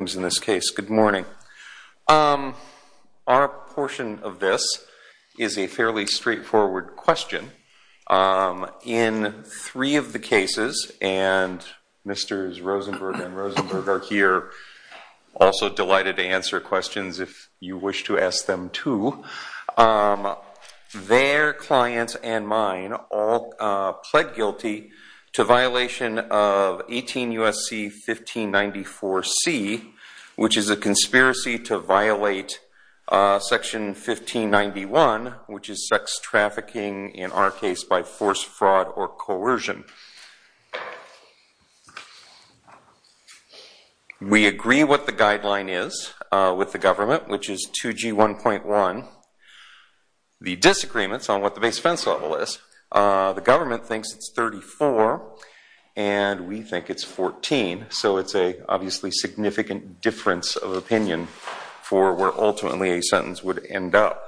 in this case. Good morning. Our portion of this is a fairly straightforward question. In three of the cases, and Mr. Rosenberg and Ms. Rosenberg are here, also delighted to answer questions if you wish to ask them too, their clients and mine all pled guilty to violation of 18 U.S.C. 1594C, which is a conspiracy to violate section 1591, which is sex trafficking in our case by force, fraud, or coercion. We agree what the guideline is with the government, which is 2G 1.1. The disagreements on what the base fence level is, the government thinks it's 34, and we think it's 14. So it's a obviously significant difference of opinion for where ultimately a sentence would end up.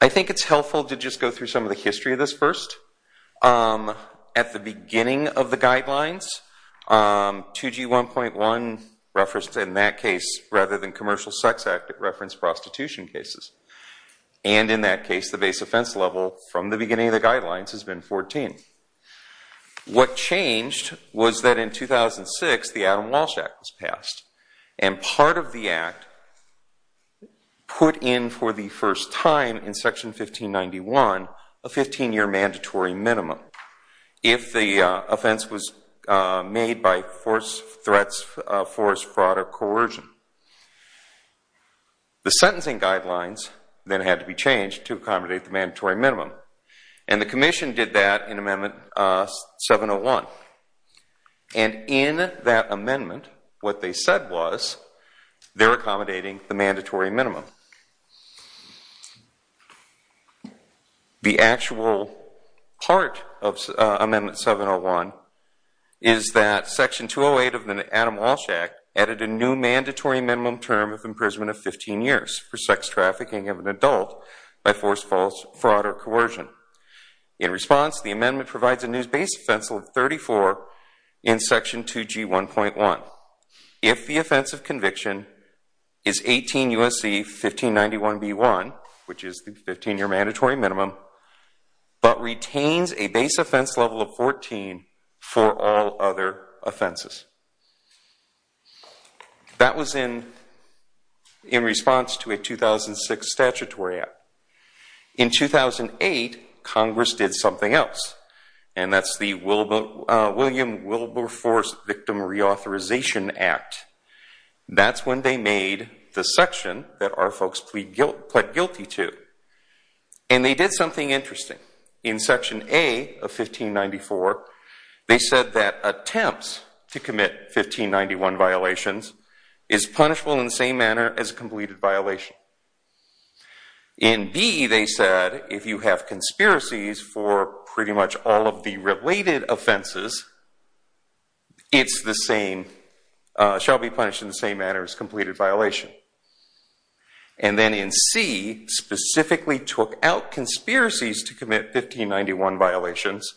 I think it's helpful to just go through some of the history of this first. At the beginning of the guidelines, 2G 1.1 referenced in that case, rather than Commercial Sex Act, it referenced prostitution cases. And in that case, the base fence has been 14. What changed was that in 2006, the Adam Walsh Act was passed. And part of the Act put in for the first time in section 1591 a 15-year mandatory minimum if the offense was made by force, threats, force, fraud, or coercion. The sentencing guidelines then had to be changed to accommodate the mandatory minimum. And the Commission did that in Amendment 701. And in that amendment, what they said was, they're accommodating the mandatory minimum. The actual part of Amendment 701 is that Section 208 of the Adam for sex trafficking of an adult by force, force, fraud, or coercion. In response, the amendment provides a new base fence of 34 in Section 2G 1.1. If the offense of conviction is 18 U.S.C. 1591b1, which is the 15-year mandatory minimum, but retains a base offense level of 14 for all other offenses. That was in response to a 2006 statutory act. In 2008, Congress did something else. And that's the William Wilberforce Victim Reauthorization Act. That's when they made the section that our folks pled guilty to. And they did something interesting. In Section A of 1594, they said that attempts to commit 1591 violations is punishable in the same manner as a completed violation. In B, they said, if you have conspiracies for pretty much all of the related offenses, it's the same, shall be punished in the same manner as completed violation. And then in C, specifically took out conspiracies to commit 1591 violations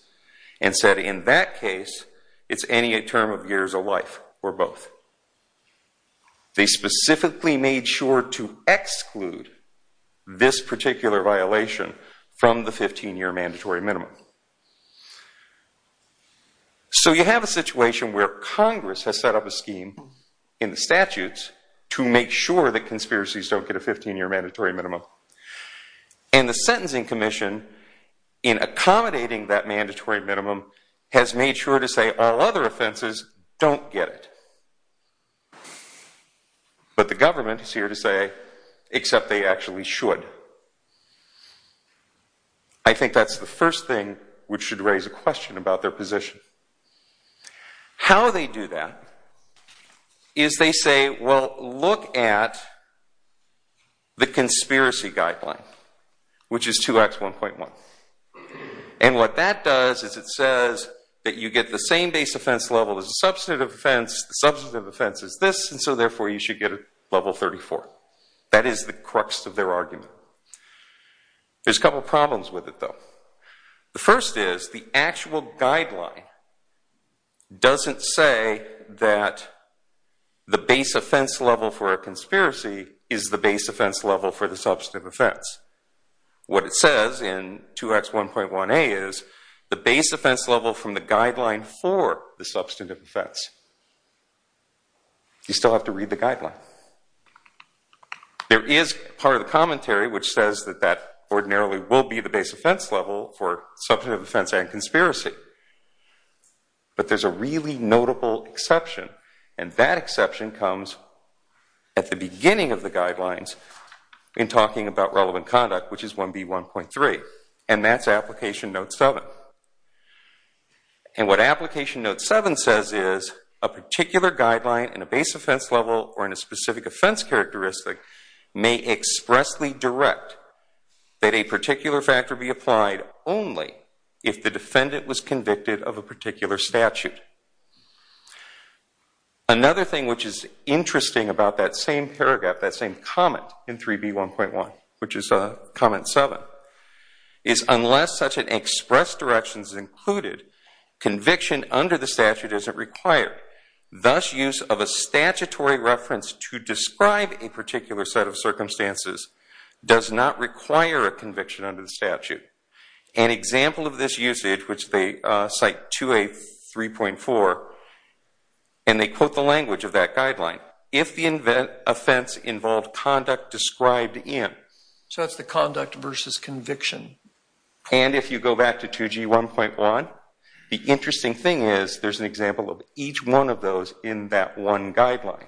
and said, in that case, it's any term of years of life or both. They specifically made sure to exclude this particular violation from the 15-year mandatory minimum. So you have a situation where Congress has set up a scheme in the statutes to make sure that conspiracies don't get a 15-year mandatory minimum. And the Sentencing Commission, in accommodating that mandatory minimum, has made sure to say, all other offenses don't get it. But the government is here to say, except they actually should. I think that's the first thing which should raise a question about their position. How they do that is they say, well, look at the conspiracy guideline, which is 2X1.1. And what that does is it says that you get the same base offense level as the substantive offense. The substantive offense is this. And so therefore, you should get a level 34. That is the crux of their argument. There's a couple problems with it, though. The first is the actual guideline doesn't say that the base offense level for a conspiracy is the base offense level for the substantive offense. What it says in 2X1.1a is the base offense level from the guideline for the substantive offense. You still have to read the guideline. There is part of the commentary which says that that ordinarily will be the base offense level for substantive offense and conspiracy. But there's a really notable exception. And that exception comes at the beginning of the guidelines in talking about relevant a particular guideline in a base offense level or in a specific offense characteristic may expressly direct that a particular factor be applied only if the defendant was convicted of a particular statute. Another thing which is interesting about that same paragraph, that same comment in 3B.1.1, which is comment 7, is unless such an instruction is included, conviction under the statute isn't required. Thus, use of a statutory reference to describe a particular set of circumstances does not require a conviction under the statute. An example of this usage, which they cite 2A.3.4, and they quote the language of that guideline, if the offense involved conduct described in. So it's the conduct versus conviction. And if you go back to 2G.1.1, the interesting thing is there's an example of each one of those in that one guideline.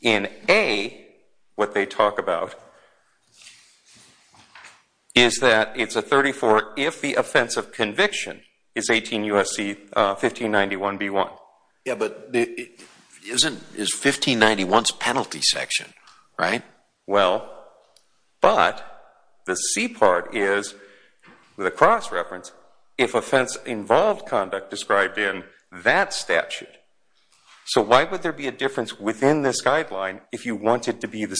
In A, what they talk about is that it's a 34 if the offense of conviction is 18 U.S.C. 1591.B.1. Yeah, but it isn't. It's 1591's penalty section, right? Well, but the C part is, with a cross reference, if offense involved conduct described in that statute. So why would there be a difference within this guideline if you want it to be the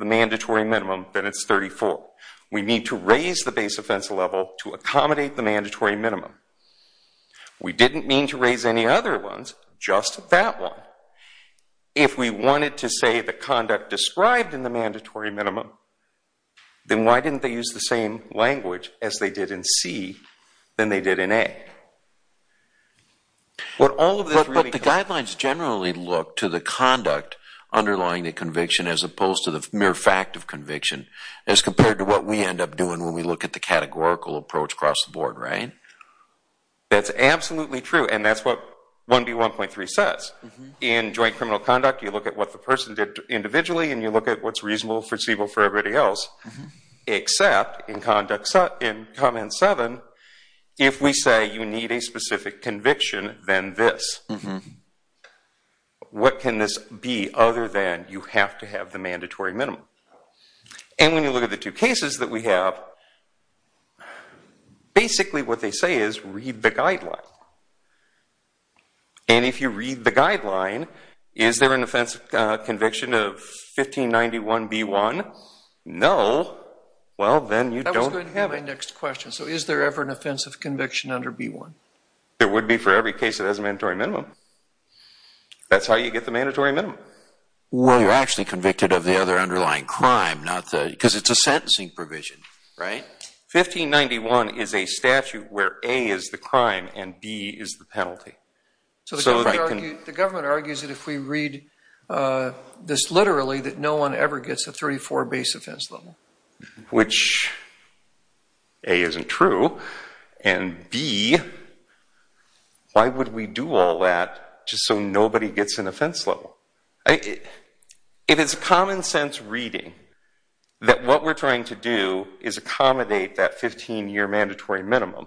mandatory minimum, then it's 34. We need to raise the base offense level to accommodate the mandatory minimum. We didn't mean to raise any other ones, just that one. If we wanted to say the conduct described in the mandatory minimum, then why didn't they use the same language as they did in C than they did in A? What all of this really... It's a matter of fact of conviction as compared to what we end up doing when we look at the categorical approach across the board, right? That's absolutely true, and that's what 1B.1.3 says. In joint criminal conduct, you look at what the person did individually and you look at what's reasonable, foreseeable for everybody else. Except in Conduct 7, if we say you need a specific conviction, then this. What can this be other than you have to have the mandatory minimum? And when you look at the two cases that we have, basically what they say is read the guideline. And if you read the guideline, is there an offensive conviction of 1591.B.1? No. Well, then you don't have it. So is there ever an offensive conviction under B.1? There would be for every case that has a mandatory minimum. That's how you get the mandatory minimum. Well, you're actually convicted of the other underlying crime, because it's a sentencing provision, right? 1591 is a statute where A is the crime and B is the penalty. So the government argues that if we read this literally, that no one ever gets a 34 base offense level. Which, A, isn't true. And B, why would we do all that just so nobody gets an offense level? If it's common sense reading that what we're trying to do is accommodate that 15 year mandatory minimum,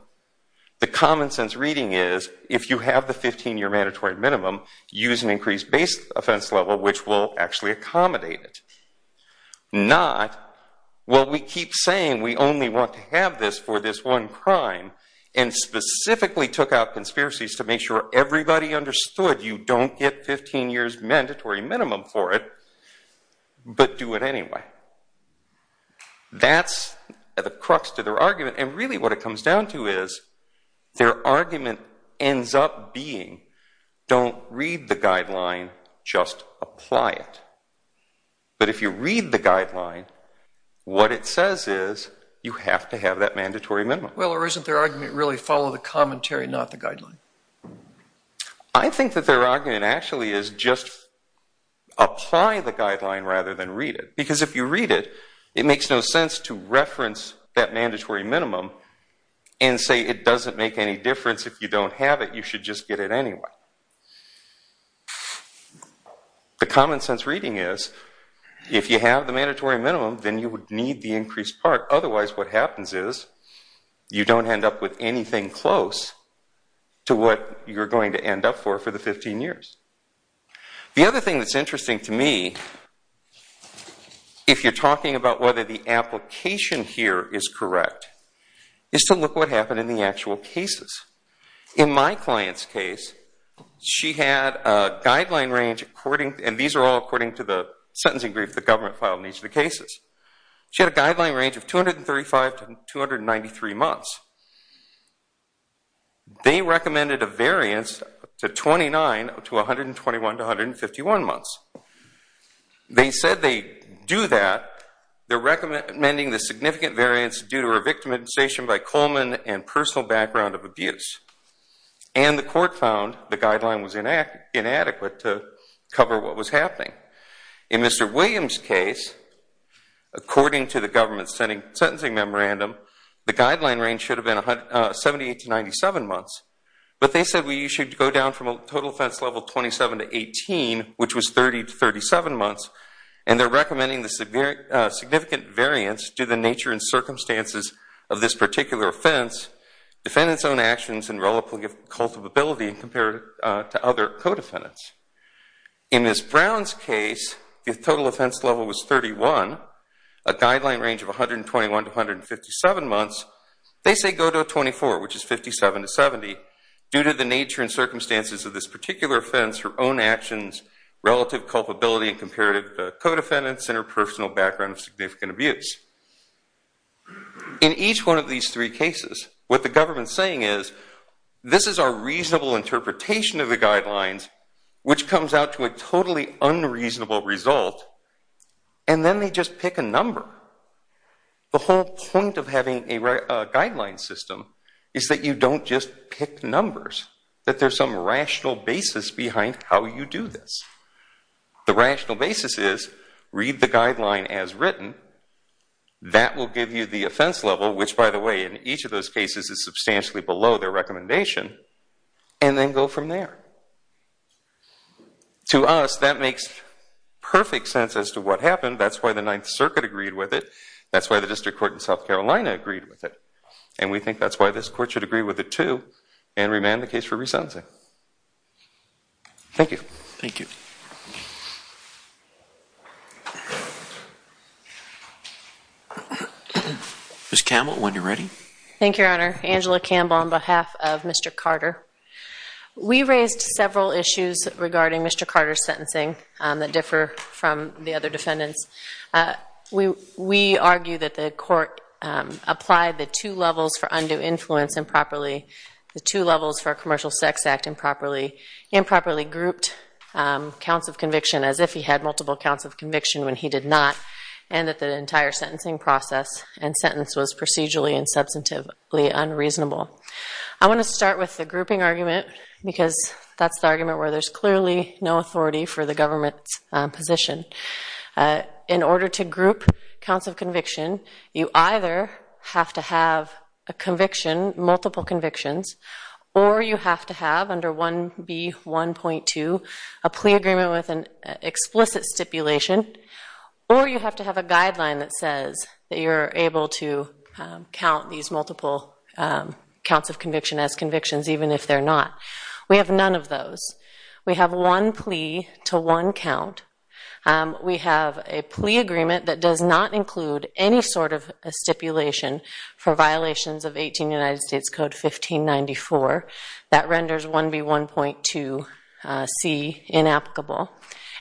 the common sense reading is if you have the 15 year mandatory minimum, use an increased base offense level which will actually accommodate it. Not, well, we keep saying we only want to have this for this one crime and specifically took out conspiracies to make sure everybody understood you don't get 15 years mandatory minimum for it, but do it anyway. That's the crux to their argument and really what it comes down to is their argument ends up being don't read the guideline, just apply it. But if you read the guideline, what it says is you have to have that mandatory minimum. Well, or isn't their argument really follow the commentary, not the guideline? I think that their argument actually is just apply the guideline rather than read it. Because if you read it, it makes no sense to reference that mandatory minimum and say it doesn't make any difference if you don't have it, you should just get it anyway. The common sense reading is if you have the mandatory minimum, then you would need the increased part, otherwise what happens is you don't end up with anything close to what you're going to end up for for the 15 years. The other thing that's interesting to me, if you're talking about whether the application here is correct, is to look what happened in the actual cases. In my client's case, she had a guideline range, and these are all according to the sentencing brief the government filed in each of the cases. She had a guideline range of 235 to 293 months. They recommended a variance to 29 to 121 to 151 months. They said they do that. They're recommending the significant variance due to a victimization by Coleman and personal background of abuse. And the court found the guideline was inadequate to cover what was happening. In Mr. Williams' case, according to the government sentencing memorandum, the guideline range should have been 78 to 97 months. But they said we should go down from a total offense level of 27 to 18, which was 30 to 37 months, and they're recommending the significant variance due to the nature and circumstances of this particular offense, defendant's own actions, and relative culpability compared to other co-defendants. In Ms. Brown's case, the total offense level was 31, a guideline range of 121 to 157 months. They say go to a 24, which is 57 to 70, due to the nature and circumstances of this particular offense, her own actions, relative culpability compared to co-defendants, and her personal background of significant abuse. In each one of these three cases, what the government's saying is, this is our reasonable interpretation of the guidelines, which comes out to a totally unreasonable result, and then they just pick a number. The whole point of having a guideline system is that you don't just pick numbers, that there's some rational basis behind how you do this. The rational basis is, read the guideline as written, that will give you the offense level, which, by the way, in each of those cases is substantially below their recommendation, and then go from there. To us, that makes perfect sense as to what happened. That's why the Ninth Circuit agreed with it. That's why the District Court in South Carolina agreed with it. And we think that's why this Court should agree with it, too, and remand the case for resensing. Thank you. Thank you. Ms. Campbell, when you're ready. Thank you, Your Honor. Angela Campbell on behalf of Mr. Carter. We raised several issues regarding Mr. Carter's sentencing that differ from the other defendants. We argue that the Court applied the two levels for undue influence improperly, the two levels for a Commercial Sex Act improperly, improperly grouped counts of conviction as if he had multiple counts of conviction when he did not, and that the entire sentencing process and sentence was procedurally and substantively unreasonable. I want to start with the grouping argument because that's the argument where there's clearly no authority for the government's position. In order to group counts of conviction, you either have to have a conviction, multiple convictions, or you have to have, under 1B1.2, a plea agreement with an explicit stipulation, or you have to have a guideline that says that you're able to count these multiple counts of conviction as convictions even if they're not. We have none of those. We have one plea to one count. We have a plea agreement that does not include any sort of stipulation for violations of 18 United States Code 1594. That renders 1B1.2C inapplicable.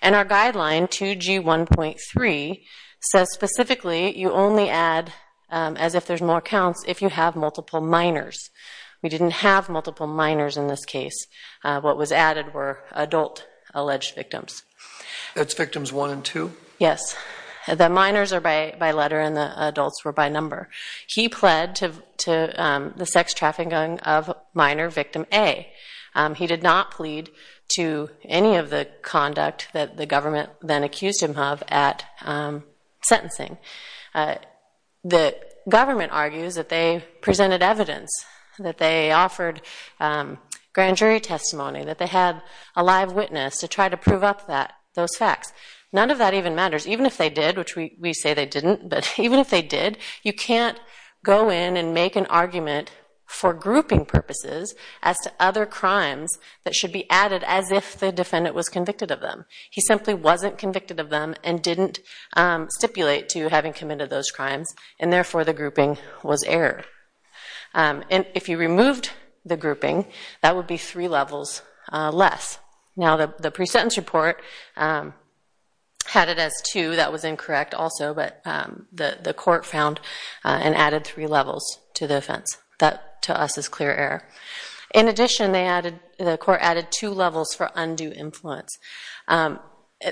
And our guideline, 2G1.3, says specifically you only add as if there's more counts if you have multiple minors. We didn't have multiple minors in this case. What was added were adult alleged victims. That's victims one and two? Yes. The minors are by letter and the adults were by number. He pled to the sex trafficking of minor victim A. He did not plead to any of the conduct that the government then accused him of at sentencing. The government argues that they presented evidence, that they offered grand jury testimony, that they had a live witness to try to prove up those facts. None of that even matters. Even if they did, which we say they didn't, but even if they did, you can't go in and make an argument for grouping purposes as to other crimes that should be added as if the defendant was convicted of them. He simply wasn't convicted of them and didn't stipulate to having committed those crimes, and therefore the grouping was error. And if you removed the grouping, that would be three levels less. Now, the pre-sentence report had it as two. That was incorrect also, but the court found and added three levels to the offense. That, to us, is clear error. In addition, the court added two levels for undue influence.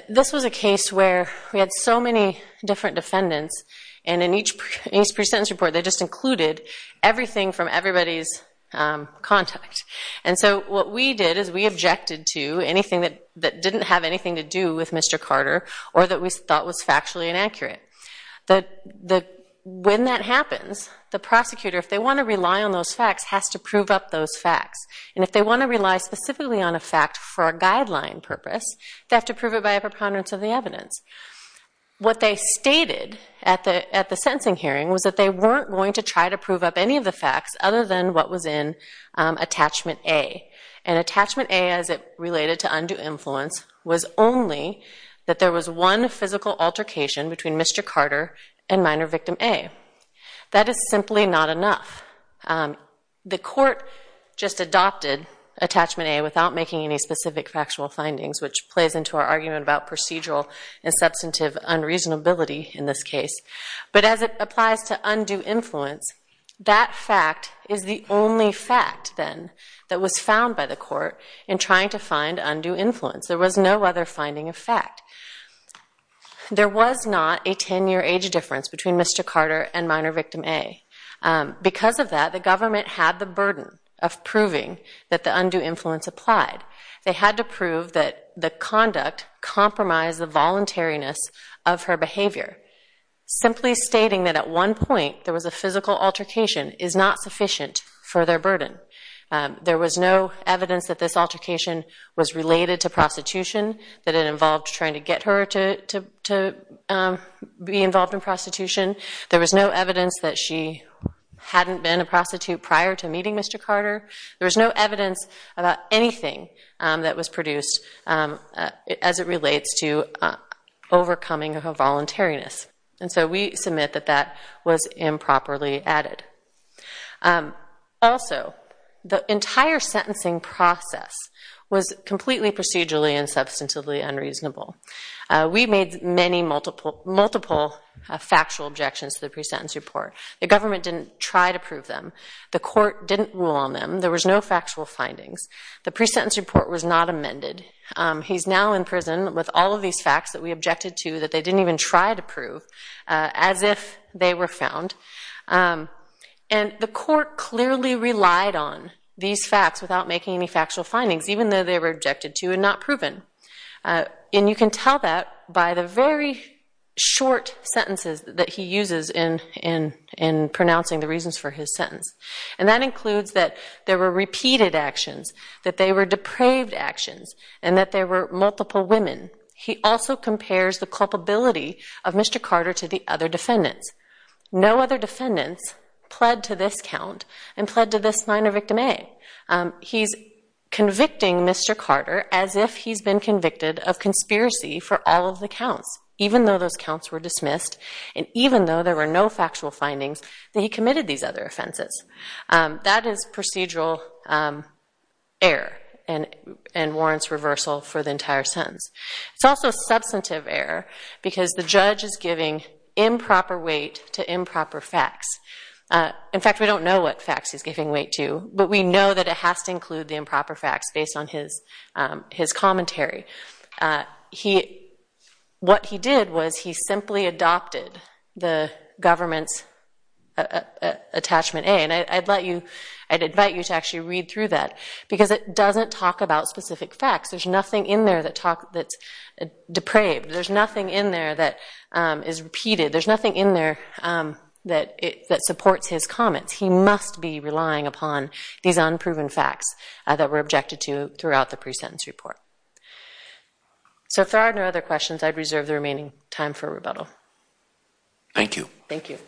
This was a case where we had so many different defendants, and in each pre-sentence report they just included everything from everybody's contact. And so what we did is we objected to anything that didn't have anything to do with Mr. Carter or that we thought was factually inaccurate. When that happens, the prosecutor, if they want to rely on those facts, has to prove up those facts. And if they want to rely specifically on a fact for a guideline purpose, they have to prove it by a preponderance of the evidence. What they stated at the sentencing hearing was that they weren't going to try to prove up any of the facts other than what was in Attachment A. And Attachment A, as it related to undue influence, was only that there was one physical altercation between Mr. Carter and minor victim A. That is simply not enough. The court just adopted Attachment A without making any specific factual findings, which plays into our argument about procedural and substantive unreasonability in this case. But as it applies to undue influence, that fact is the only fact, then, that was found by the court in trying to find undue influence. There was no other finding of fact. There was not a 10-year age difference between Mr. Carter and minor victim A. Because of that, the government had the burden of proving that the undue influence applied. They had to prove that the conduct compromised the voluntariness of her behavior. Simply stating that at one point there was a physical altercation is not sufficient for their burden. There was no evidence that this altercation was related to prostitution, that it involved trying to get her to be involved in prostitution. There was no evidence that she hadn't been a prostitute prior to meeting Mr. Carter. There was no evidence about anything that was produced as it relates to overcoming her voluntariness. And so we submit that that was improperly added. Also, the entire sentencing process was completely procedurally and substantively unreasonable. We made multiple factual objections to the pre-sentence report. The government didn't try to prove them. The court didn't rule on them. There was no factual findings. The pre-sentence report was not amended. He's now in prison with all of these facts that we objected to that they didn't even try to prove, as if they were found. And the court clearly relied on these facts without making any factual findings, even though they were objected to and not proven. And you can tell that by the very short sentences that he uses in pronouncing the reasons for his sentence. And that includes that there were repeated actions, that they were depraved actions, and that there were multiple women. He also compares the culpability of Mr. Carter to the other defendants. No other defendants pled to this count and pled to this minor victim A. He's convicting Mr. Carter as if he's been convicted of conspiracy for all of the counts, even though those counts were dismissed and even though there were no factual findings that he committed these other offenses. That is procedural error and warrants reversal for the entire sentence. It's also substantive error because the judge is giving improper weight to improper facts. In fact, we don't know what facts he's giving weight to, but we know that it has to include the improper facts based on his commentary. What he did was he simply adopted the government's attachment A. And I'd invite you to actually read through that because it doesn't talk about specific facts. There's nothing in there that's depraved. There's nothing in there that is repeated. There's nothing in there that supports his comments. He must be relying upon these unproven facts that were objected to throughout the pre-sentence report. So if there are no other questions, I'd reserve the remaining time for rebuttal. Thank you. Thank you. Thank you.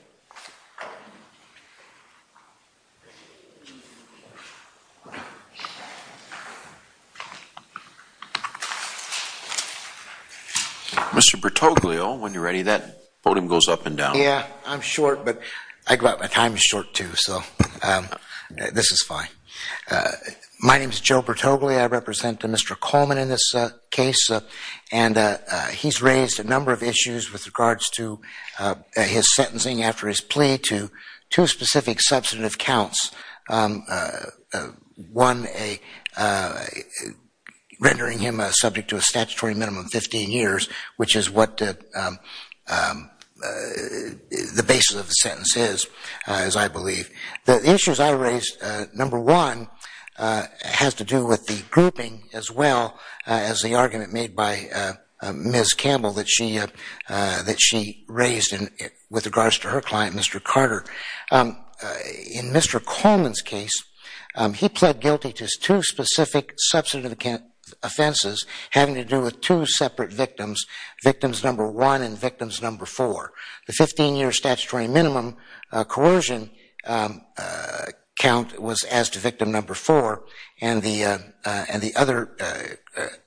Mr. Bertoglio, when you're ready, that podium goes up and down. Yeah, I'm short, but my time is short, too, so this is fine. My name is Joe Bertoglio. I represent Mr. Coleman in this case, and he's raised a number of issues with regards to his sentencing after his plea to two specific substantive counts, one rendering him subject to a statutory minimum of 15 years, which is what the basis of the sentence is, as I believe. The issues I raised, number one, has to do with the grouping as well as the argument made by Ms. Campbell that she raised with regards to her client, Mr. Carter. In Mr. Coleman's case, he pled guilty to two specific substantive offenses having to do with two separate victims, victims number one and victims number four. The 15-year statutory minimum coercion count was as to victim number four, and the other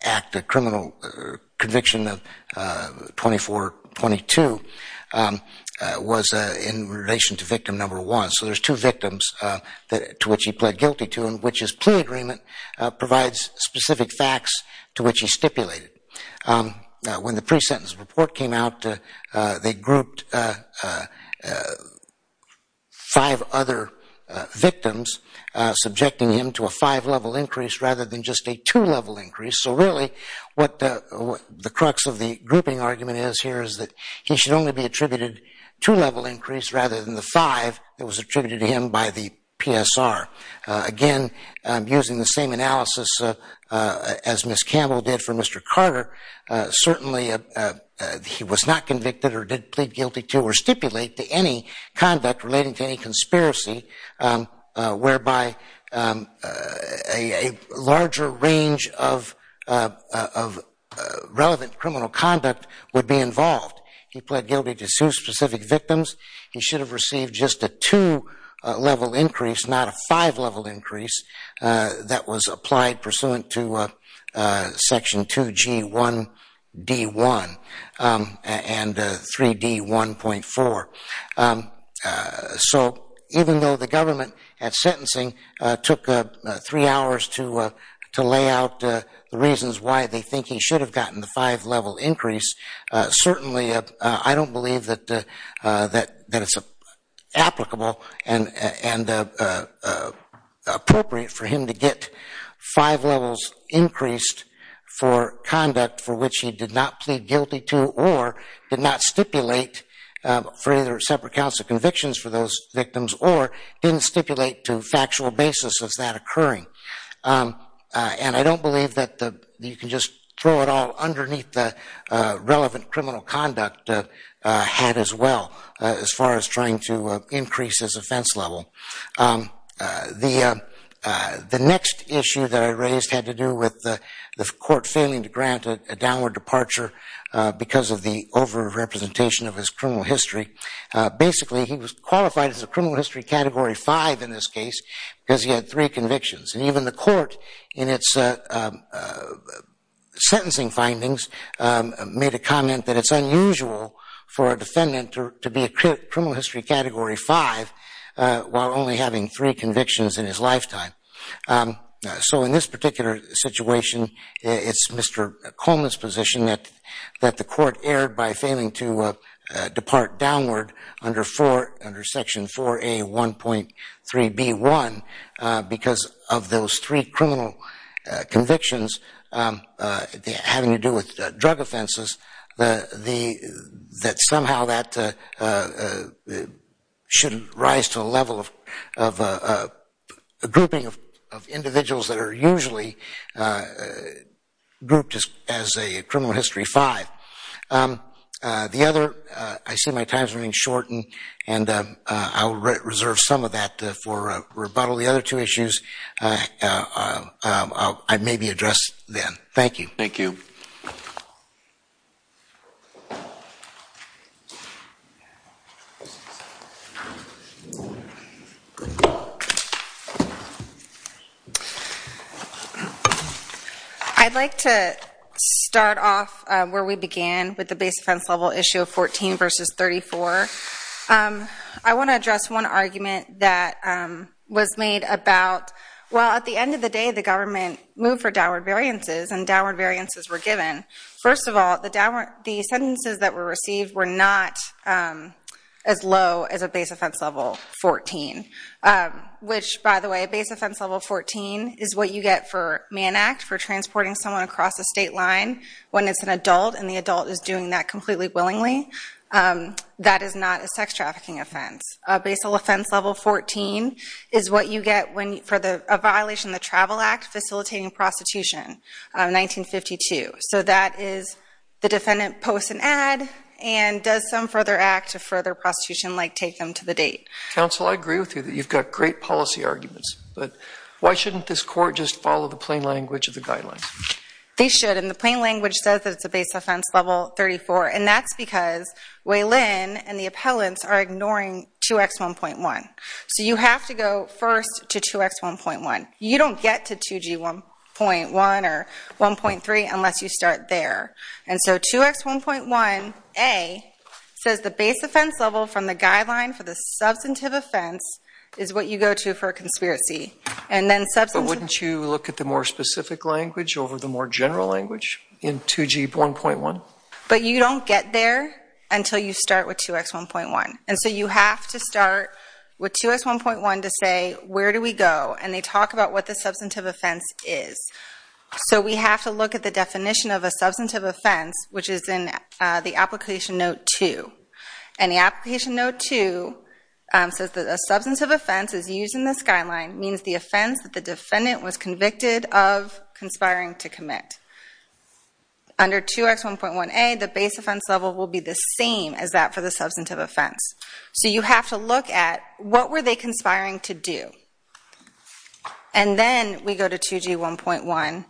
act, the criminal conviction of 2422, was in relation to victim number one. So there's two victims to which he pled guilty to, and which his plea agreement provides specific facts to which he stipulated. When the pre-sentence report came out, they grouped five other victims, subjecting him to a five-level increase rather than just a two-level increase. So really what the crux of the grouping argument is here is that he should only be attributed two-level increase rather than the five that was attributed to him by the PSR. Again, using the same analysis as Ms. Campbell did for Mr. Carter, certainly he was not convicted or did plead guilty to or stipulate to any conduct relating to any conspiracy whereby a larger range of relevant criminal conduct would be involved. He pled guilty to two specific victims. He should have received just a two-level increase, not a five-level increase, that was applied pursuant to Section 2G1D1 and 3D1.4. So even though the government at sentencing took three hours to lay out the reasons why they think he should have gotten the five-level increase, certainly I don't believe that it's applicable and appropriate for him to get five levels increased for conduct for which he did not plead guilty to or did not stipulate for either separate counts of convictions for those victims or didn't stipulate to factual basis of that occurring. And I don't believe that you can just throw it all underneath the relevant criminal conduct had as well as far as trying to increase his offense level. The next issue that I raised had to do with the court failing to grant a downward departure because of the over-representation of his criminal history. Basically, he was qualified as a criminal history Category 5 in this case because he had three convictions. And even the court in its sentencing findings made a comment that it's unusual for a defendant to be a criminal history Category 5 while only having three convictions in his lifetime. So in this particular situation, it's Mr. Coleman's position that the court erred by failing to depart downward under Section 4A.1.3.B.1 because of those three criminal convictions having to do with drug offenses that somehow that should rise to a level of a grouping of individuals that are usually grouped as a criminal history 5. The other, I see my time is running short and I will reserve some of that for rebuttal. The other two issues I may be addressed then. Thank you. Thank you. I'd like to start off where we began with the base offense level issue of 14 versus 34. I want to address one argument that was made about, well, at the end of the day, the government moved for downward variances and downward variances were given. First of all, the sentences that were received were not as low as a base offense level 14, which, by the way, a base offense level 14 is what you get for man act, for transporting someone across a state line when it's an adult and the adult is doing that completely willingly. That is not a sex trafficking offense. A basal offense level 14 is what you get for a violation of the Travel Act facilitating prostitution, 1952. So that is the defendant posts an ad and does some further act of further prostitution like take them to the date. Counsel, I agree with you that you've got great policy arguments, but why shouldn't this court just follow the plain language of the guidelines? They should and the plain language says that it's a base offense level 34 and that's because Waylon and the appellants are ignoring 2X1.1. So you have to go first to 2X1.1. You don't get to 2G1.1 or 1.3 unless you start there. And so 2X1.1A says the base offense level from the guideline for the substantive offense is what you go to for a conspiracy. But wouldn't you look at the more specific language over the more general language in 2G1.1? No, but you don't get there until you start with 2X1.1. And so you have to start with 2X1.1 to say where do we go? And they talk about what the substantive offense is. So we have to look at the definition of a substantive offense, which is in the application note 2. And the application note 2 says that a substantive offense is used in this guideline, means the offense that the defendant was convicted of conspiring to commit. Under 2X1.1A, the base offense level will be the same as that for the substantive offense. So you have to look at what were they conspiring to do. And then we go to 2G1.1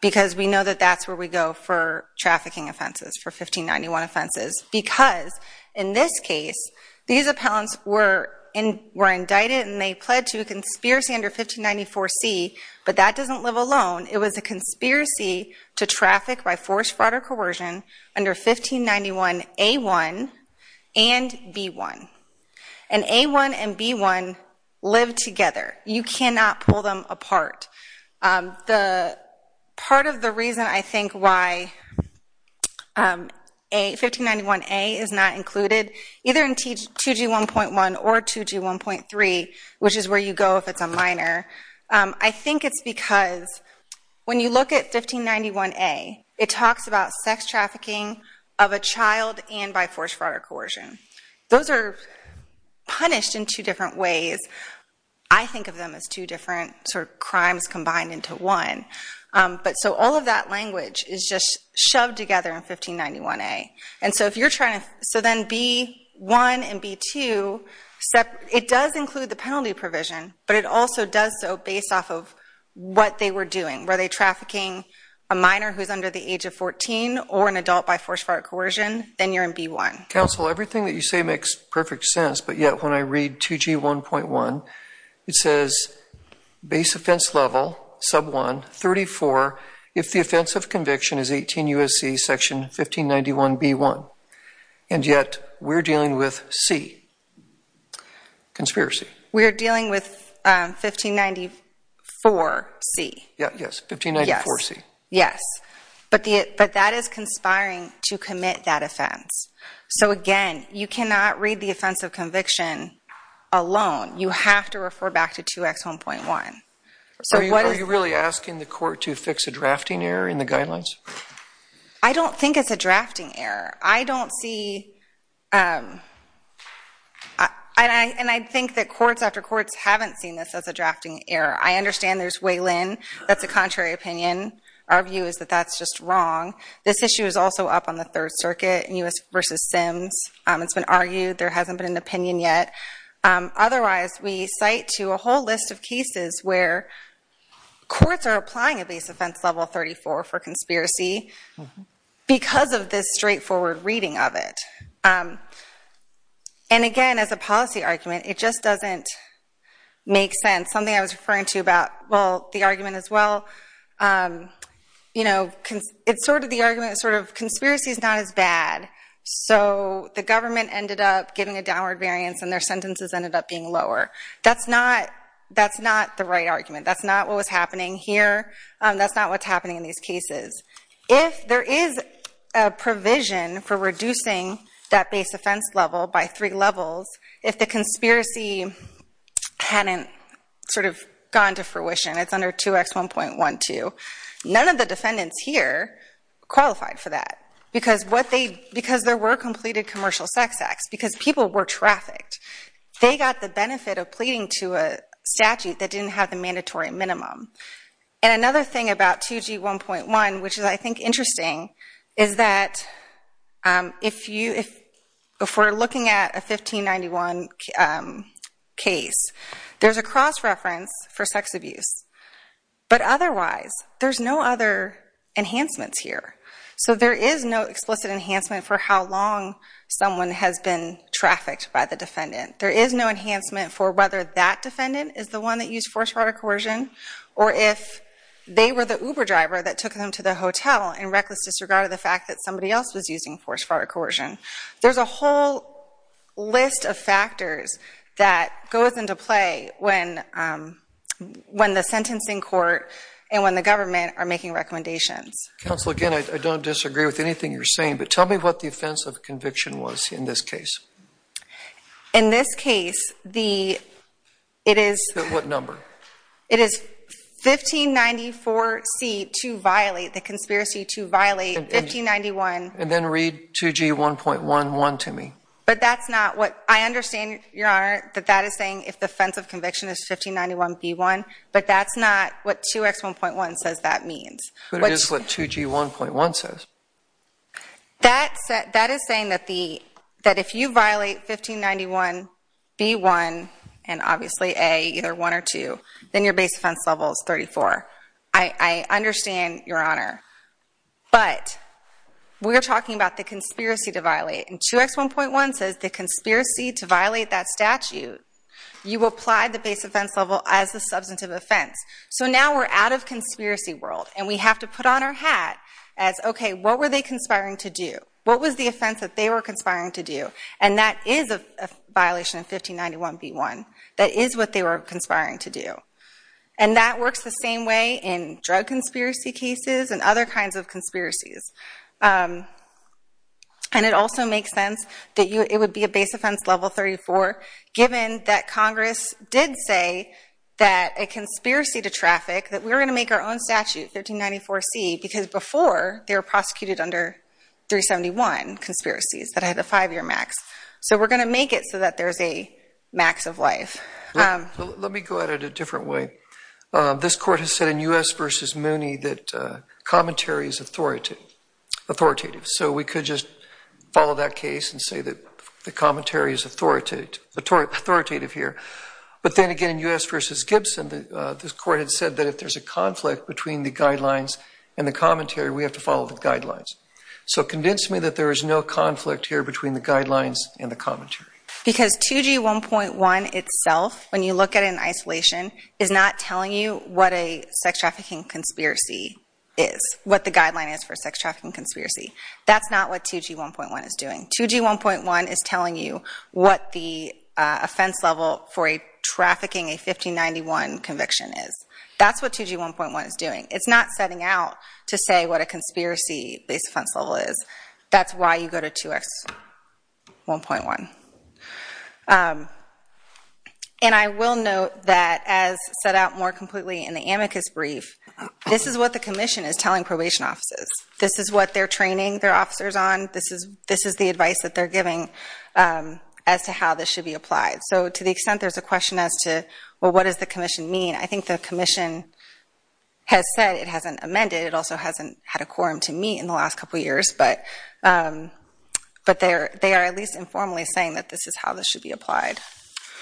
because we know that that's where we go for trafficking offenses, for 1591 offenses. Because in this case, these appellants were indicted and they pled to a conspiracy under 1594C, but that doesn't live alone. It was a conspiracy to traffic by forced fraud or coercion under 1591A1 and B1. And A1 and B1 live together. You cannot pull them apart. Part of the reason I think why 1591A is not included, either in 2G1.1 or 2G1.3, which is where you go if it's a minor, I think it's because when you look at 1591A, it talks about sex trafficking of a child and by forced fraud or coercion. Those are punished in two different ways. I think of them as two different sort of crimes combined into one. But so all of that language is just shoved together in 1591A. And so then B1 and B2, it does include the penalty provision, but it also does so based off of what they were doing. Were they trafficking a minor who's under the age of 14 or an adult by forced fraud or coercion? Then you're in B1. Counsel, everything that you say makes perfect sense, but yet when I read 2G1.1, it says base offense level, sub 1, 34, if the offense of conviction is 18 U.S.C. section 1591B1. And yet we're dealing with C, conspiracy. We're dealing with 1594C. Yes, 1594C. Yes, but that is conspiring to commit that offense. So, again, you cannot read the offense of conviction alone. You have to refer back to 2X1.1. Are you really asking the court to fix a drafting error in the guidelines? I don't think it's a drafting error. I don't see, and I think that courts after courts haven't seen this as a drafting error. I understand there's Waylon. That's a contrary opinion. Our view is that that's just wrong. This issue is also up on the Third Circuit, U.S. v. Sims. It's been argued. There hasn't been an opinion yet. Otherwise, we cite to a whole list of cases where courts are applying a base offense level 34 for conspiracy because of this straightforward reading of it. And, again, as a policy argument, it just doesn't make sense. Something I was referring to about, well, the argument as well, you know, it's sort of the argument that sort of conspiracy is not as bad. So the government ended up giving a downward variance and their sentences ended up being lower. That's not the right argument. That's not what was happening here. That's not what's happening in these cases. If there is a provision for reducing that base offense level by three levels, if the conspiracy hadn't sort of gone to fruition, it's under 2X1.12, none of the defendants here qualified for that because there were completed commercial sex acts, because people were trafficked. They got the benefit of pleading to a statute that didn't have the mandatory minimum. And another thing about 2G1.1, which I think is interesting, is that if we're looking at a 1591 case, there's a cross-reference for sex abuse. But otherwise, there's no other enhancements here. So there is no explicit enhancement for how long someone has been trafficked by the defendant. There is no enhancement for whether that defendant is the one that used force, fraud, or coercion, or if they were the Uber driver that took them to the hotel in reckless disregard of the fact that somebody else was using force, fraud, or coercion. There's a whole list of factors that goes into play when the sentencing court and when the government are making recommendations. Counsel, again, I don't disagree with anything you're saying, but tell me what the offense of conviction was in this case. In this case, it is 1594C to violate, the conspiracy to violate 1591. And then read 2G1.1.1 to me. But that's not what I understand, Your Honor, that that is saying if the offense of conviction is 1591B1. But that's not what 2X1.1 says that means. But it is what 2G1.1 says. That is saying that if you violate 1591B1 and obviously A, either 1 or 2, then your base offense level is 34. I understand, Your Honor, but we're talking about the conspiracy to violate. And 2X1.1 says the conspiracy to violate that statute, you apply the base offense level as a substantive offense. So now we're out of conspiracy world, and we have to put on our hat as, okay, what were they conspiring to do? What was the offense that they were conspiring to do? And that is a violation of 1591B1. That is what they were conspiring to do. And that works the same way in drug conspiracy cases and other kinds of conspiracies. And it also makes sense that it would be a base offense level 34 given that Congress did say that a conspiracy to traffic, that we're going to make our own statute, 1594C, because before they were prosecuted under 371 conspiracies that had a five-year max. So we're going to make it so that there's a max of life. Let me go at it a different way. This court has said in U.S. v. Mooney that commentary is authoritative. So we could just follow that case and say that the commentary is authoritative here. But then again, in U.S. v. Gibson, this court had said that if there's a conflict between the guidelines and the commentary, we have to follow the guidelines. So convince me that there is no conflict here between the guidelines and the commentary. Because 2G1.1 itself, when you look at it in isolation, is not telling you what a sex trafficking conspiracy is, what the guideline is for a sex trafficking conspiracy. That's not what 2G1.1 is doing. 2G1.1 is telling you what the offense level for trafficking a 1591 conviction is. That's what 2G1.1 is doing. It's not setting out to say what a conspiracy base offense level is. That's why you go to 2X1.1. And I will note that as set out more completely in the amicus brief, this is what the commission is telling probation offices. This is what they're training their officers on. This is the advice that they're giving as to how this should be applied. So to the extent there's a question as to, well, what does the commission mean? I think the commission has said it hasn't amended. It also hasn't had a quorum to meet in the last couple years. But they are at least informally saying that this is how this should be applied.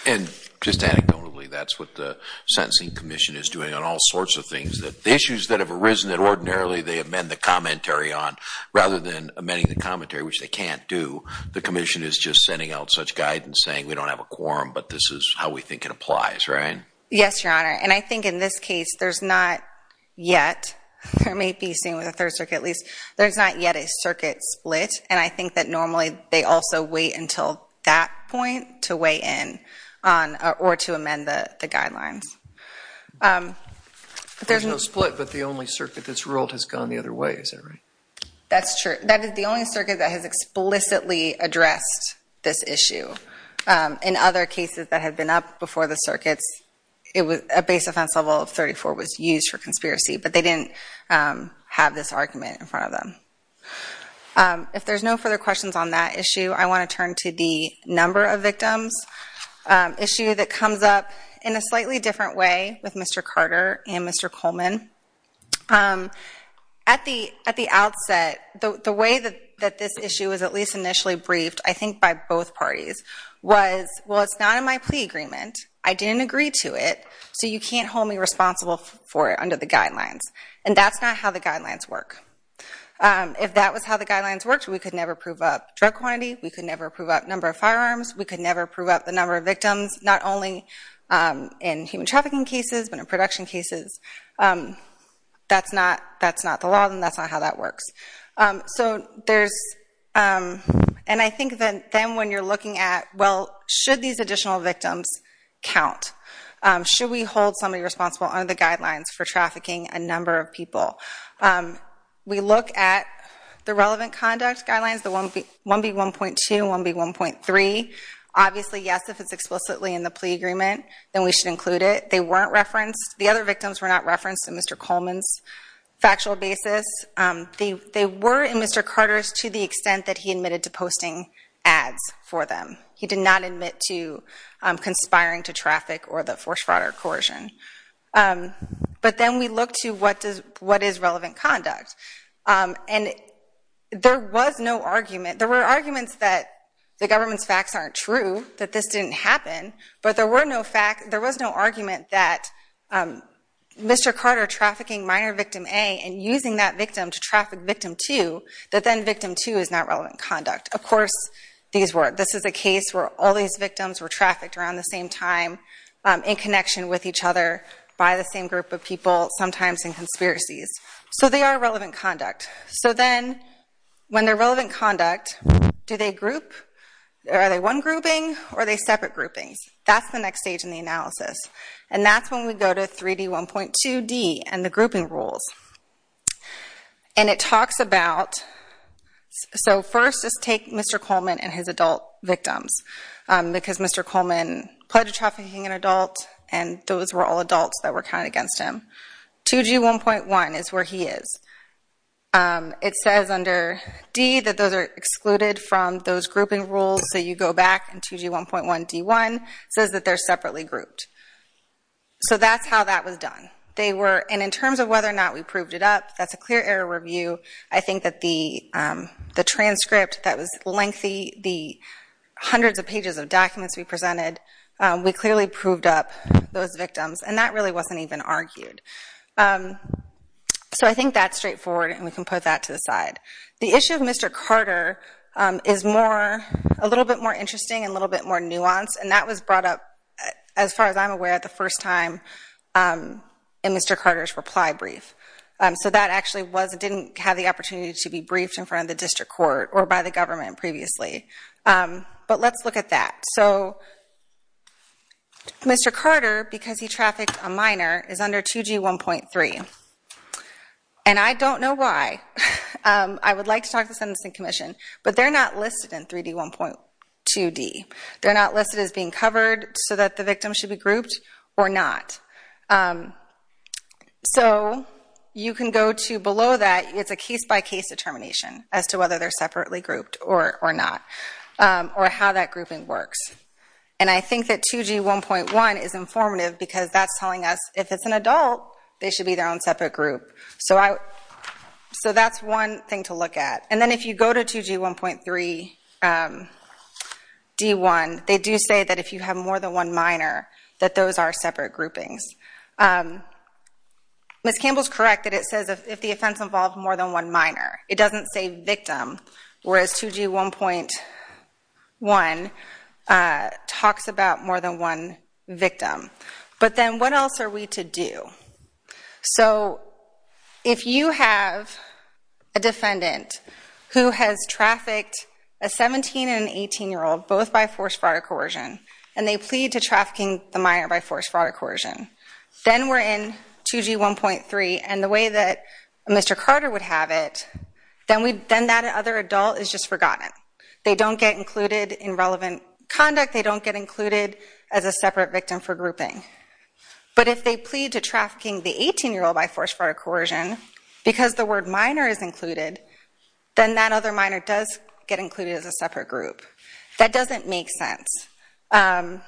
And just anecdotally, that's what the sentencing commission is doing on all sorts of things. The issues that have arisen that ordinarily they amend the commentary on rather than amending the commentary, which they can't do, the commission is just sending out such guidance saying we don't have a quorum, but this is how we think it applies, right? Yes, Your Honor. And I think in this case there's not yet, or it may be seen with a third circuit at least, there's not yet a circuit split. And I think that normally they also wait until that point to weigh in or to amend the guidelines. There's no split, but the only circuit that's ruled has gone the other way, is that right? That's true. That is the only circuit that has explicitly addressed this issue. In other cases that have been up before the circuits, a base offense level of 34 was used for conspiracy, but they didn't have this argument in front of them. If there's no further questions on that issue, I want to turn to the number of victims issue that comes up in a slightly different way with Mr. Carter and Mr. Coleman. At the outset, the way that this issue was at least initially briefed, I think by both parties, was, well, it's not in my plea agreement, I didn't agree to it, so you can't hold me responsible for it under the guidelines. And that's not how the guidelines work. If that was how the guidelines worked, we could never prove up drug quantity, we could never prove up number of firearms, we could never prove up the number of victims, not only in human trafficking cases, but in production cases. That's not the law, and that's not how that works. And I think then when you're looking at, well, should these additional victims count? Should we hold somebody responsible under the guidelines for trafficking a number of people? We look at the relevant conduct guidelines, the 1B1.2, 1B1.3. Obviously, yes, if it's explicitly in the plea agreement, then we should include it. They weren't referenced. The other victims were not referenced in Mr. Coleman's factual basis. They were in Mr. Carter's to the extent that he admitted to posting ads for them. He did not admit to conspiring to traffic or the force fraud or coercion. But then we look to what is relevant conduct. And there was no argument. There were arguments that the government's facts aren't true, that this didn't happen, but there was no argument that Mr. Carter trafficking minor victim A and using that victim to traffic victim 2, that then victim 2 is not relevant conduct. Of course, this is a case where all these victims were trafficked around the same time, in connection with each other, by the same group of people, sometimes in conspiracies. So they are relevant conduct. So then, when they're relevant conduct, do they group? Are they one grouping, or are they separate groupings? That's the next stage in the analysis. And that's when we go to 3D1.2D and the grouping rules. And it talks about, so first, just take Mr. Coleman and his adult victims, because Mr. Coleman pledged trafficking an adult, and those were all adults that were counted against him. 2G1.1 is where he is. It says under D that those are excluded from those grouping rules, so you go back and 2G1.1D1 says that they're separately grouped. So that's how that was done. And in terms of whether or not we proved it up, that's a clear error review. I think that the transcript that was lengthy, the hundreds of pages of documents we presented, we clearly proved up those victims, and that really wasn't even argued. So I think that's straightforward, and we can put that to the side. The issue of Mr. Carter is a little bit more interesting and a little bit more nuanced, and that was brought up, as far as I'm aware, the first time in Mr. Carter's reply brief. So that actually didn't have the opportunity to be briefed in front of the district court or by the government previously. But let's look at that. So Mr. Carter, because he trafficked a minor, is under 2G1.3, and I don't know why. I would like to talk to the Sentencing Commission, but they're not listed in 3D1.2D. They're not listed as being covered so that the victim should be grouped or not. So you can go to below that. It's a case-by-case determination as to whether they're separately grouped or not or how that grouping works. And I think that 2G1.1 is informative because that's telling us if it's an adult, they should be their own separate group. So that's one thing to look at. And then if you go to 2G1.3D1, they do say that if you have more than one minor, that those are separate groupings. Ms. Campbell is correct that it says if the offense involved more than one minor. It doesn't say victim, whereas 2G1.1 talks about more than one victim. But then what else are we to do? So if you have a defendant who has trafficked a 17- and an 18-year-old, both by force, fraud, or coercion, and they plead to trafficking the minor by force, fraud, or coercion, then we're in 2G1.3, and the way that Mr. Carter would have it, then that other adult is just forgotten. They don't get included in relevant conduct. They don't get included as a separate victim for grouping. But if they plead to trafficking the 18-year-old by force, fraud, or coercion, because the word minor is included, then that other minor does get included as a separate group. That doesn't make sense. And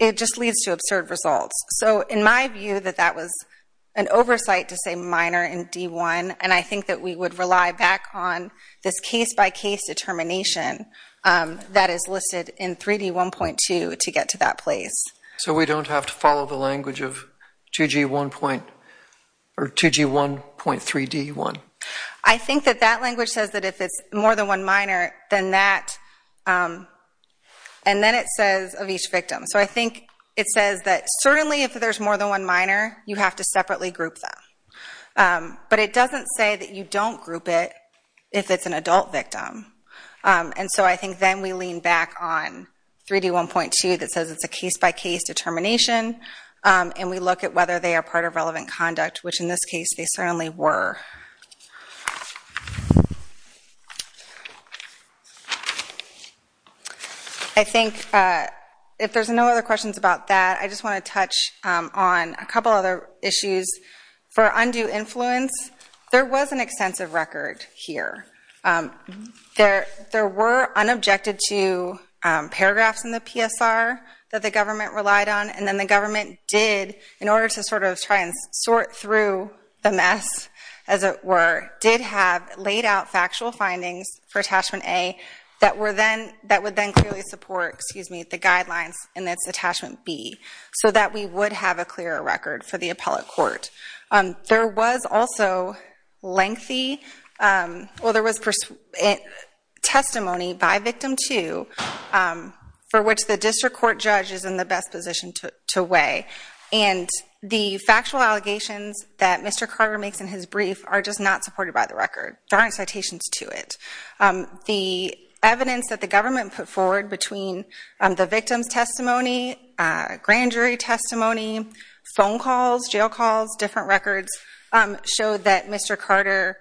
it just leads to absurd results. So in my view, that that was an oversight to say minor in D1, and I think that we would rely back on this case-by-case determination that is listed in 3D1.2 to get to that place. So we don't have to follow the language of 2G1.3D1? I think that that language says that if it's more than one minor, then that, and then it says of each victim. So I think it says that certainly if there's more than one minor, you have to separately group them. But it doesn't say that you don't group it if it's an adult victim. And so I think then we lean back on 3D1.2 that says it's a case-by-case determination, and we look at whether they are part of relevant conduct, which in this case they certainly were. I think if there's no other questions about that, I just want to touch on a couple other issues. For undue influence, there was an extensive record here. There were unobjected to paragraphs in the PSR that the government relied on, and then the government did, in order to sort of try and sort through the mess, as it were, did have laid out factual findings for Attachment A that would then clearly support the guidelines in Attachment B, so that we would have a clearer record for the appellate court. There was also testimony by Victim 2 for which the district court judge is in the best position to weigh. And the factual allegations that Mr. Carter makes in his brief are just not supported by the record, drawing citations to it. The evidence that the government put forward between the victim's testimony, grand jury testimony, phone calls, jail calls, different records, showed that Mr. Carter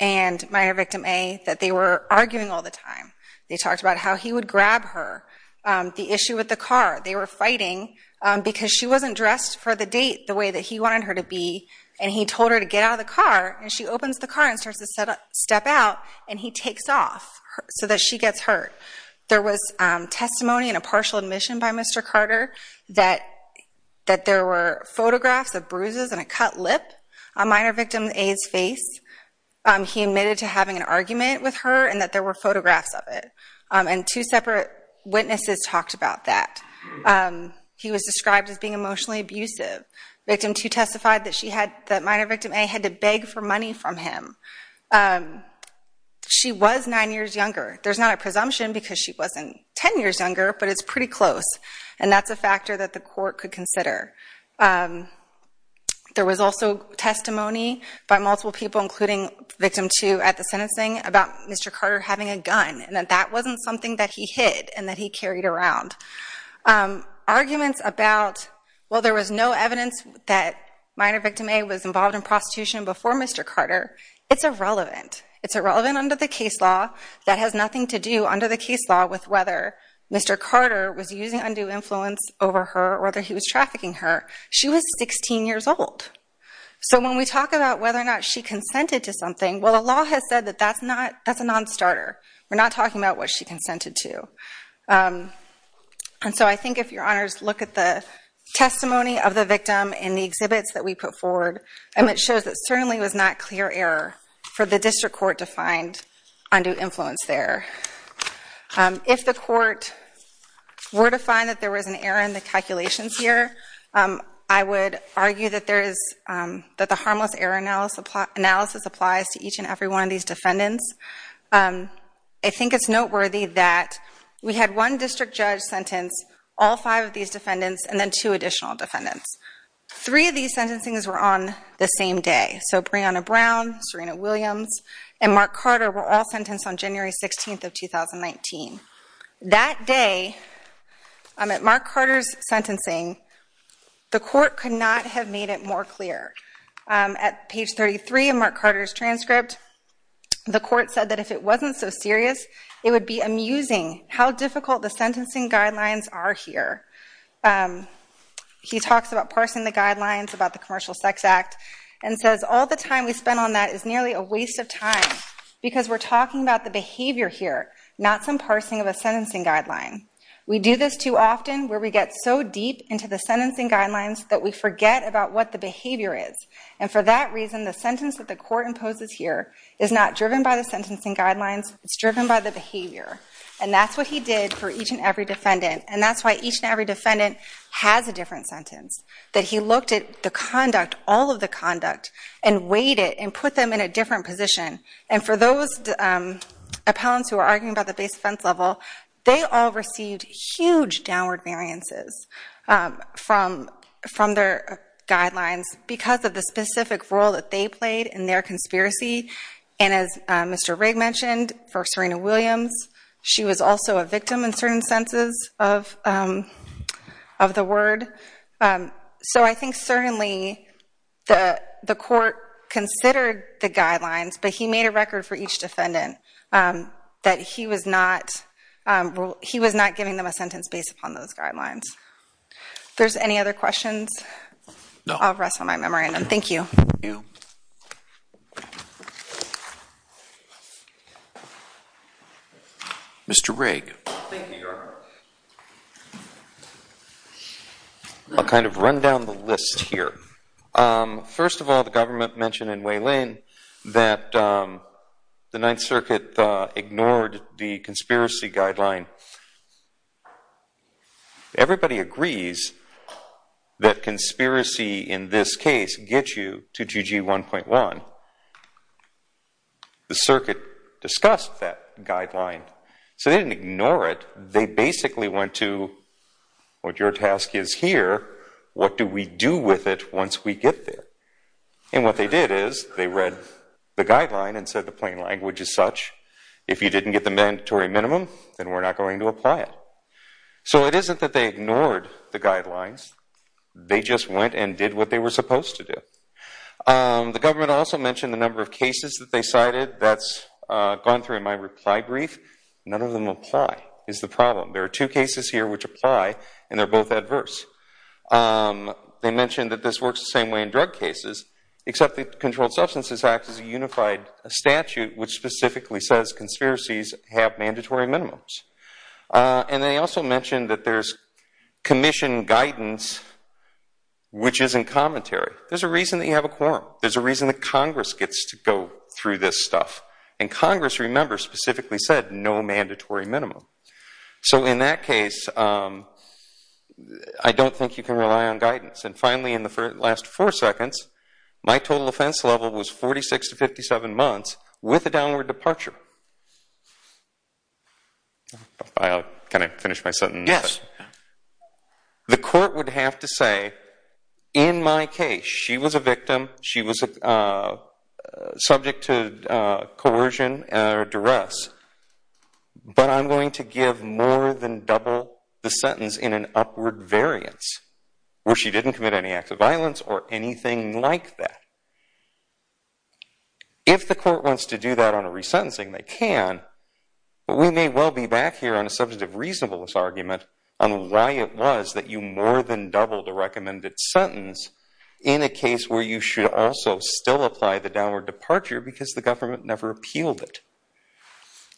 and minor Victim A, that they were arguing all the time. They talked about how he would grab her, the issue with the car. They were fighting because she wasn't dressed for the date the way that he wanted her to be, and he told her to get out of the car, and she opens the car and starts to step out, and he takes off so that she gets hurt. There was testimony in a partial admission by Mr. Carter that there were photographs of bruises and a cut lip on minor Victim A's face. He admitted to having an argument with her and that there were photographs of it, and two separate witnesses talked about that. He was described as being emotionally abusive. Victim 2 testified that minor Victim A had to beg for money from him. She was nine years younger. There's not a presumption because she wasn't ten years younger, but it's pretty close, and that's a factor that the court could consider. There was also testimony by multiple people, including Victim 2 at the sentencing, about Mr. Carter having a gun and that that wasn't something that he hid and that he carried around. Arguments about, well, there was no evidence that minor Victim A was involved in prostitution before Mr. Carter, it's irrelevant. It's irrelevant under the case law. That has nothing to do under the case law with whether Mr. Carter was using undue influence over her or whether he was trafficking her. She was 16 years old. So when we talk about whether or not she consented to something, well, the law has said that that's a non-starter. We're not talking about what she consented to. And so I think if your honors look at the testimony of the victim in the exhibits that we put forward, it shows that certainly it was not clear error for the district court to find undue influence there. If the court were to find that there was an error in the calculations here, I would argue that the harmless error analysis applies to each and every one of these defendants. I think it's noteworthy that we had one district judge sentence all five of these defendants and then two additional defendants. Three of these sentencings were on the same day. So Breonna Brown, Serena Williams, and Mark Carter were all sentenced on January 16th of 2019. That day at Mark Carter's sentencing, the court could not have made it more clear. At page 33 of Mark Carter's transcript, the court said that if it wasn't so serious, it would be amusing how difficult the sentencing guidelines are here. He talks about parsing the guidelines about the Commercial Sex Act and says all the time we spend on that is nearly a waste of time because we're talking about the behavior here, not some parsing of a sentencing guideline. We do this too often where we get so deep into the sentencing guidelines that we forget about what the behavior is. And for that reason, the sentence that the court imposes here is not driven by the sentencing guidelines. It's driven by the behavior. And that's what he did for each and every defendant. And that's why each and every defendant has a different sentence, that he looked at the conduct, all of the conduct, and weighed it and put them in a different position. And for those appellants who are arguing about the base offense level, they all received huge downward variances from their guidelines because of the specific role that they played in their conspiracy. And as Mr. Rigg mentioned, for Serena Williams, she was also a victim in certain senses of the word. So I think certainly the court considered the guidelines, but he made a record for each defendant that he was not giving them a sentence based upon those guidelines. If there's any other questions, I'll rest on my memorandum. Thank you. Thank you. Mr. Rigg. Thank you, Your Honor. I'll kind of run down the list here. First of all, the government mentioned in Weyland that the Ninth Circuit ignored the conspiracy guideline. If everybody agrees that conspiracy in this case gets you to GG 1.1, the circuit discussed that guideline. So they didn't ignore it. They basically went to, what your task is here, what do we do with it once we get there? And what they did is they read the guideline and said the plain language is such, if you didn't get the mandatory minimum, then we're not going to apply it. So it isn't that they ignored the guidelines. They just went and did what they were supposed to do. The government also mentioned the number of cases that they cited. That's gone through in my reply brief. None of them apply is the problem. There are two cases here which apply, and they're both adverse. They mentioned that this works the same way in drug cases, except the Controlled Substances Act is a unified statute which specifically says conspiracies have mandatory minimums. And they also mentioned that there's commission guidance which isn't commentary. There's a reason that you have a quorum. There's a reason that Congress gets to go through this stuff. And Congress, remember, specifically said no mandatory minimum. So in that case, I don't think you can rely on guidance. And finally, in the last four seconds, my total offense level was 46 to 57 months with a downward departure. Can I finish my sentence? Yes. The court would have to say, in my case, she was a victim. She was subject to coercion or duress. But I'm going to give more than double the sentence in an upward variance where she didn't commit any acts of violence or anything like that. If the court wants to do that on a resentencing, they can. But we may well be back here on a subject of reasonableness argument on why it was that you more than doubled the recommended sentence in a case where you should also still apply the downward departure because the government never appealed it.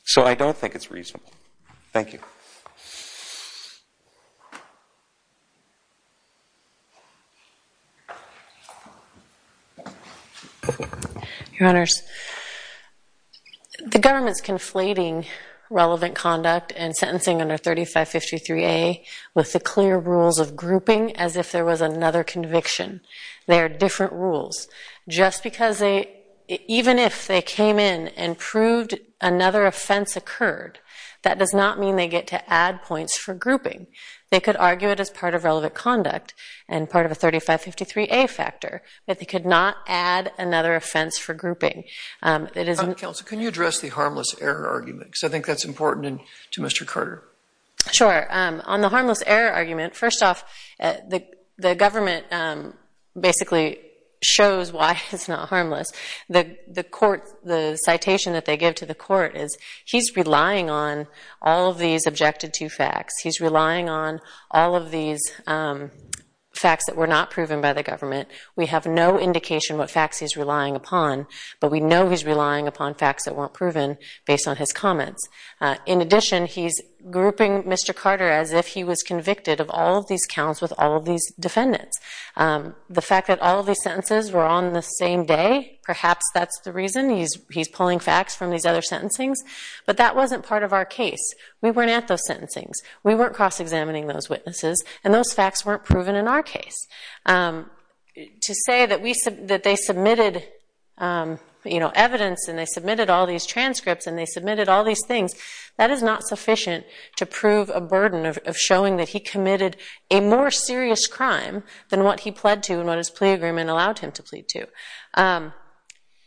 So I don't think it's reasonable. Thank you. Your Honors, the government's conflating relevant conduct and sentencing under 3553A with the clear rules of grouping as if there was another conviction. They are different rules. Even if they came in and proved another offense occurred, that does not mean they get to add points for grouping. They could argue it as part of relevant conduct and part of a 3553A factor, but they could not add another offense for grouping. Counsel, can you address the harmless error argument? Because I think that's important to Mr. Carter. Sure. On the harmless error argument, first off, the government basically shows why it's not harmless. The citation that they give to the court is he's relying on all of these objected-to facts. He's relying on all of these facts that were not proven by the government. We have no indication what facts he's relying upon, but we know he's relying upon facts that weren't proven based on his comments. In addition, he's grouping Mr. Carter as if he was convicted of all of these counts with all of these defendants. The fact that all of these sentences were on the same day, perhaps that's the reason he's pulling facts from these other sentencings, but that wasn't part of our case. We weren't at those sentencings. We weren't cross-examining those witnesses, and those facts weren't proven in our case. To say that they submitted evidence and they submitted all these transcripts and they submitted all these things, that is not sufficient to prove a burden of showing that he committed a more serious crime than what he pled to and what his plea agreement allowed him to plead to.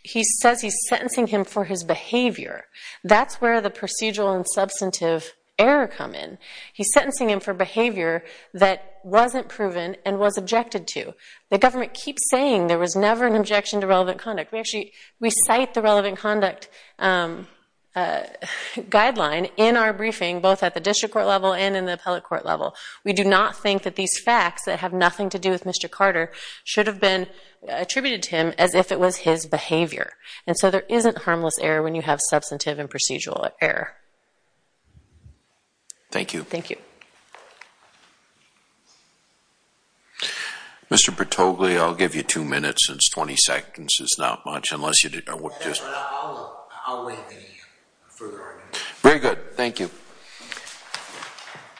He says he's sentencing him for his behavior. That's where the procedural and substantive error come in. He's sentencing him for behavior that wasn't proven and was objected to. The government keeps saying there was never an objection to relevant conduct. We cite the relevant conduct guideline in our briefing, both at the district court level and in the appellate court level. We do not think that these facts that have nothing to do with Mr. Carter should have been attributed to him as if it was his behavior. And so there isn't harmless error when you have substantive and procedural error. Thank you. Thank you. Mr. Patoglia, I'll give you two minutes. It's 20 seconds. It's not much unless you just... I'll wait for the further argument. Very good. Thank you.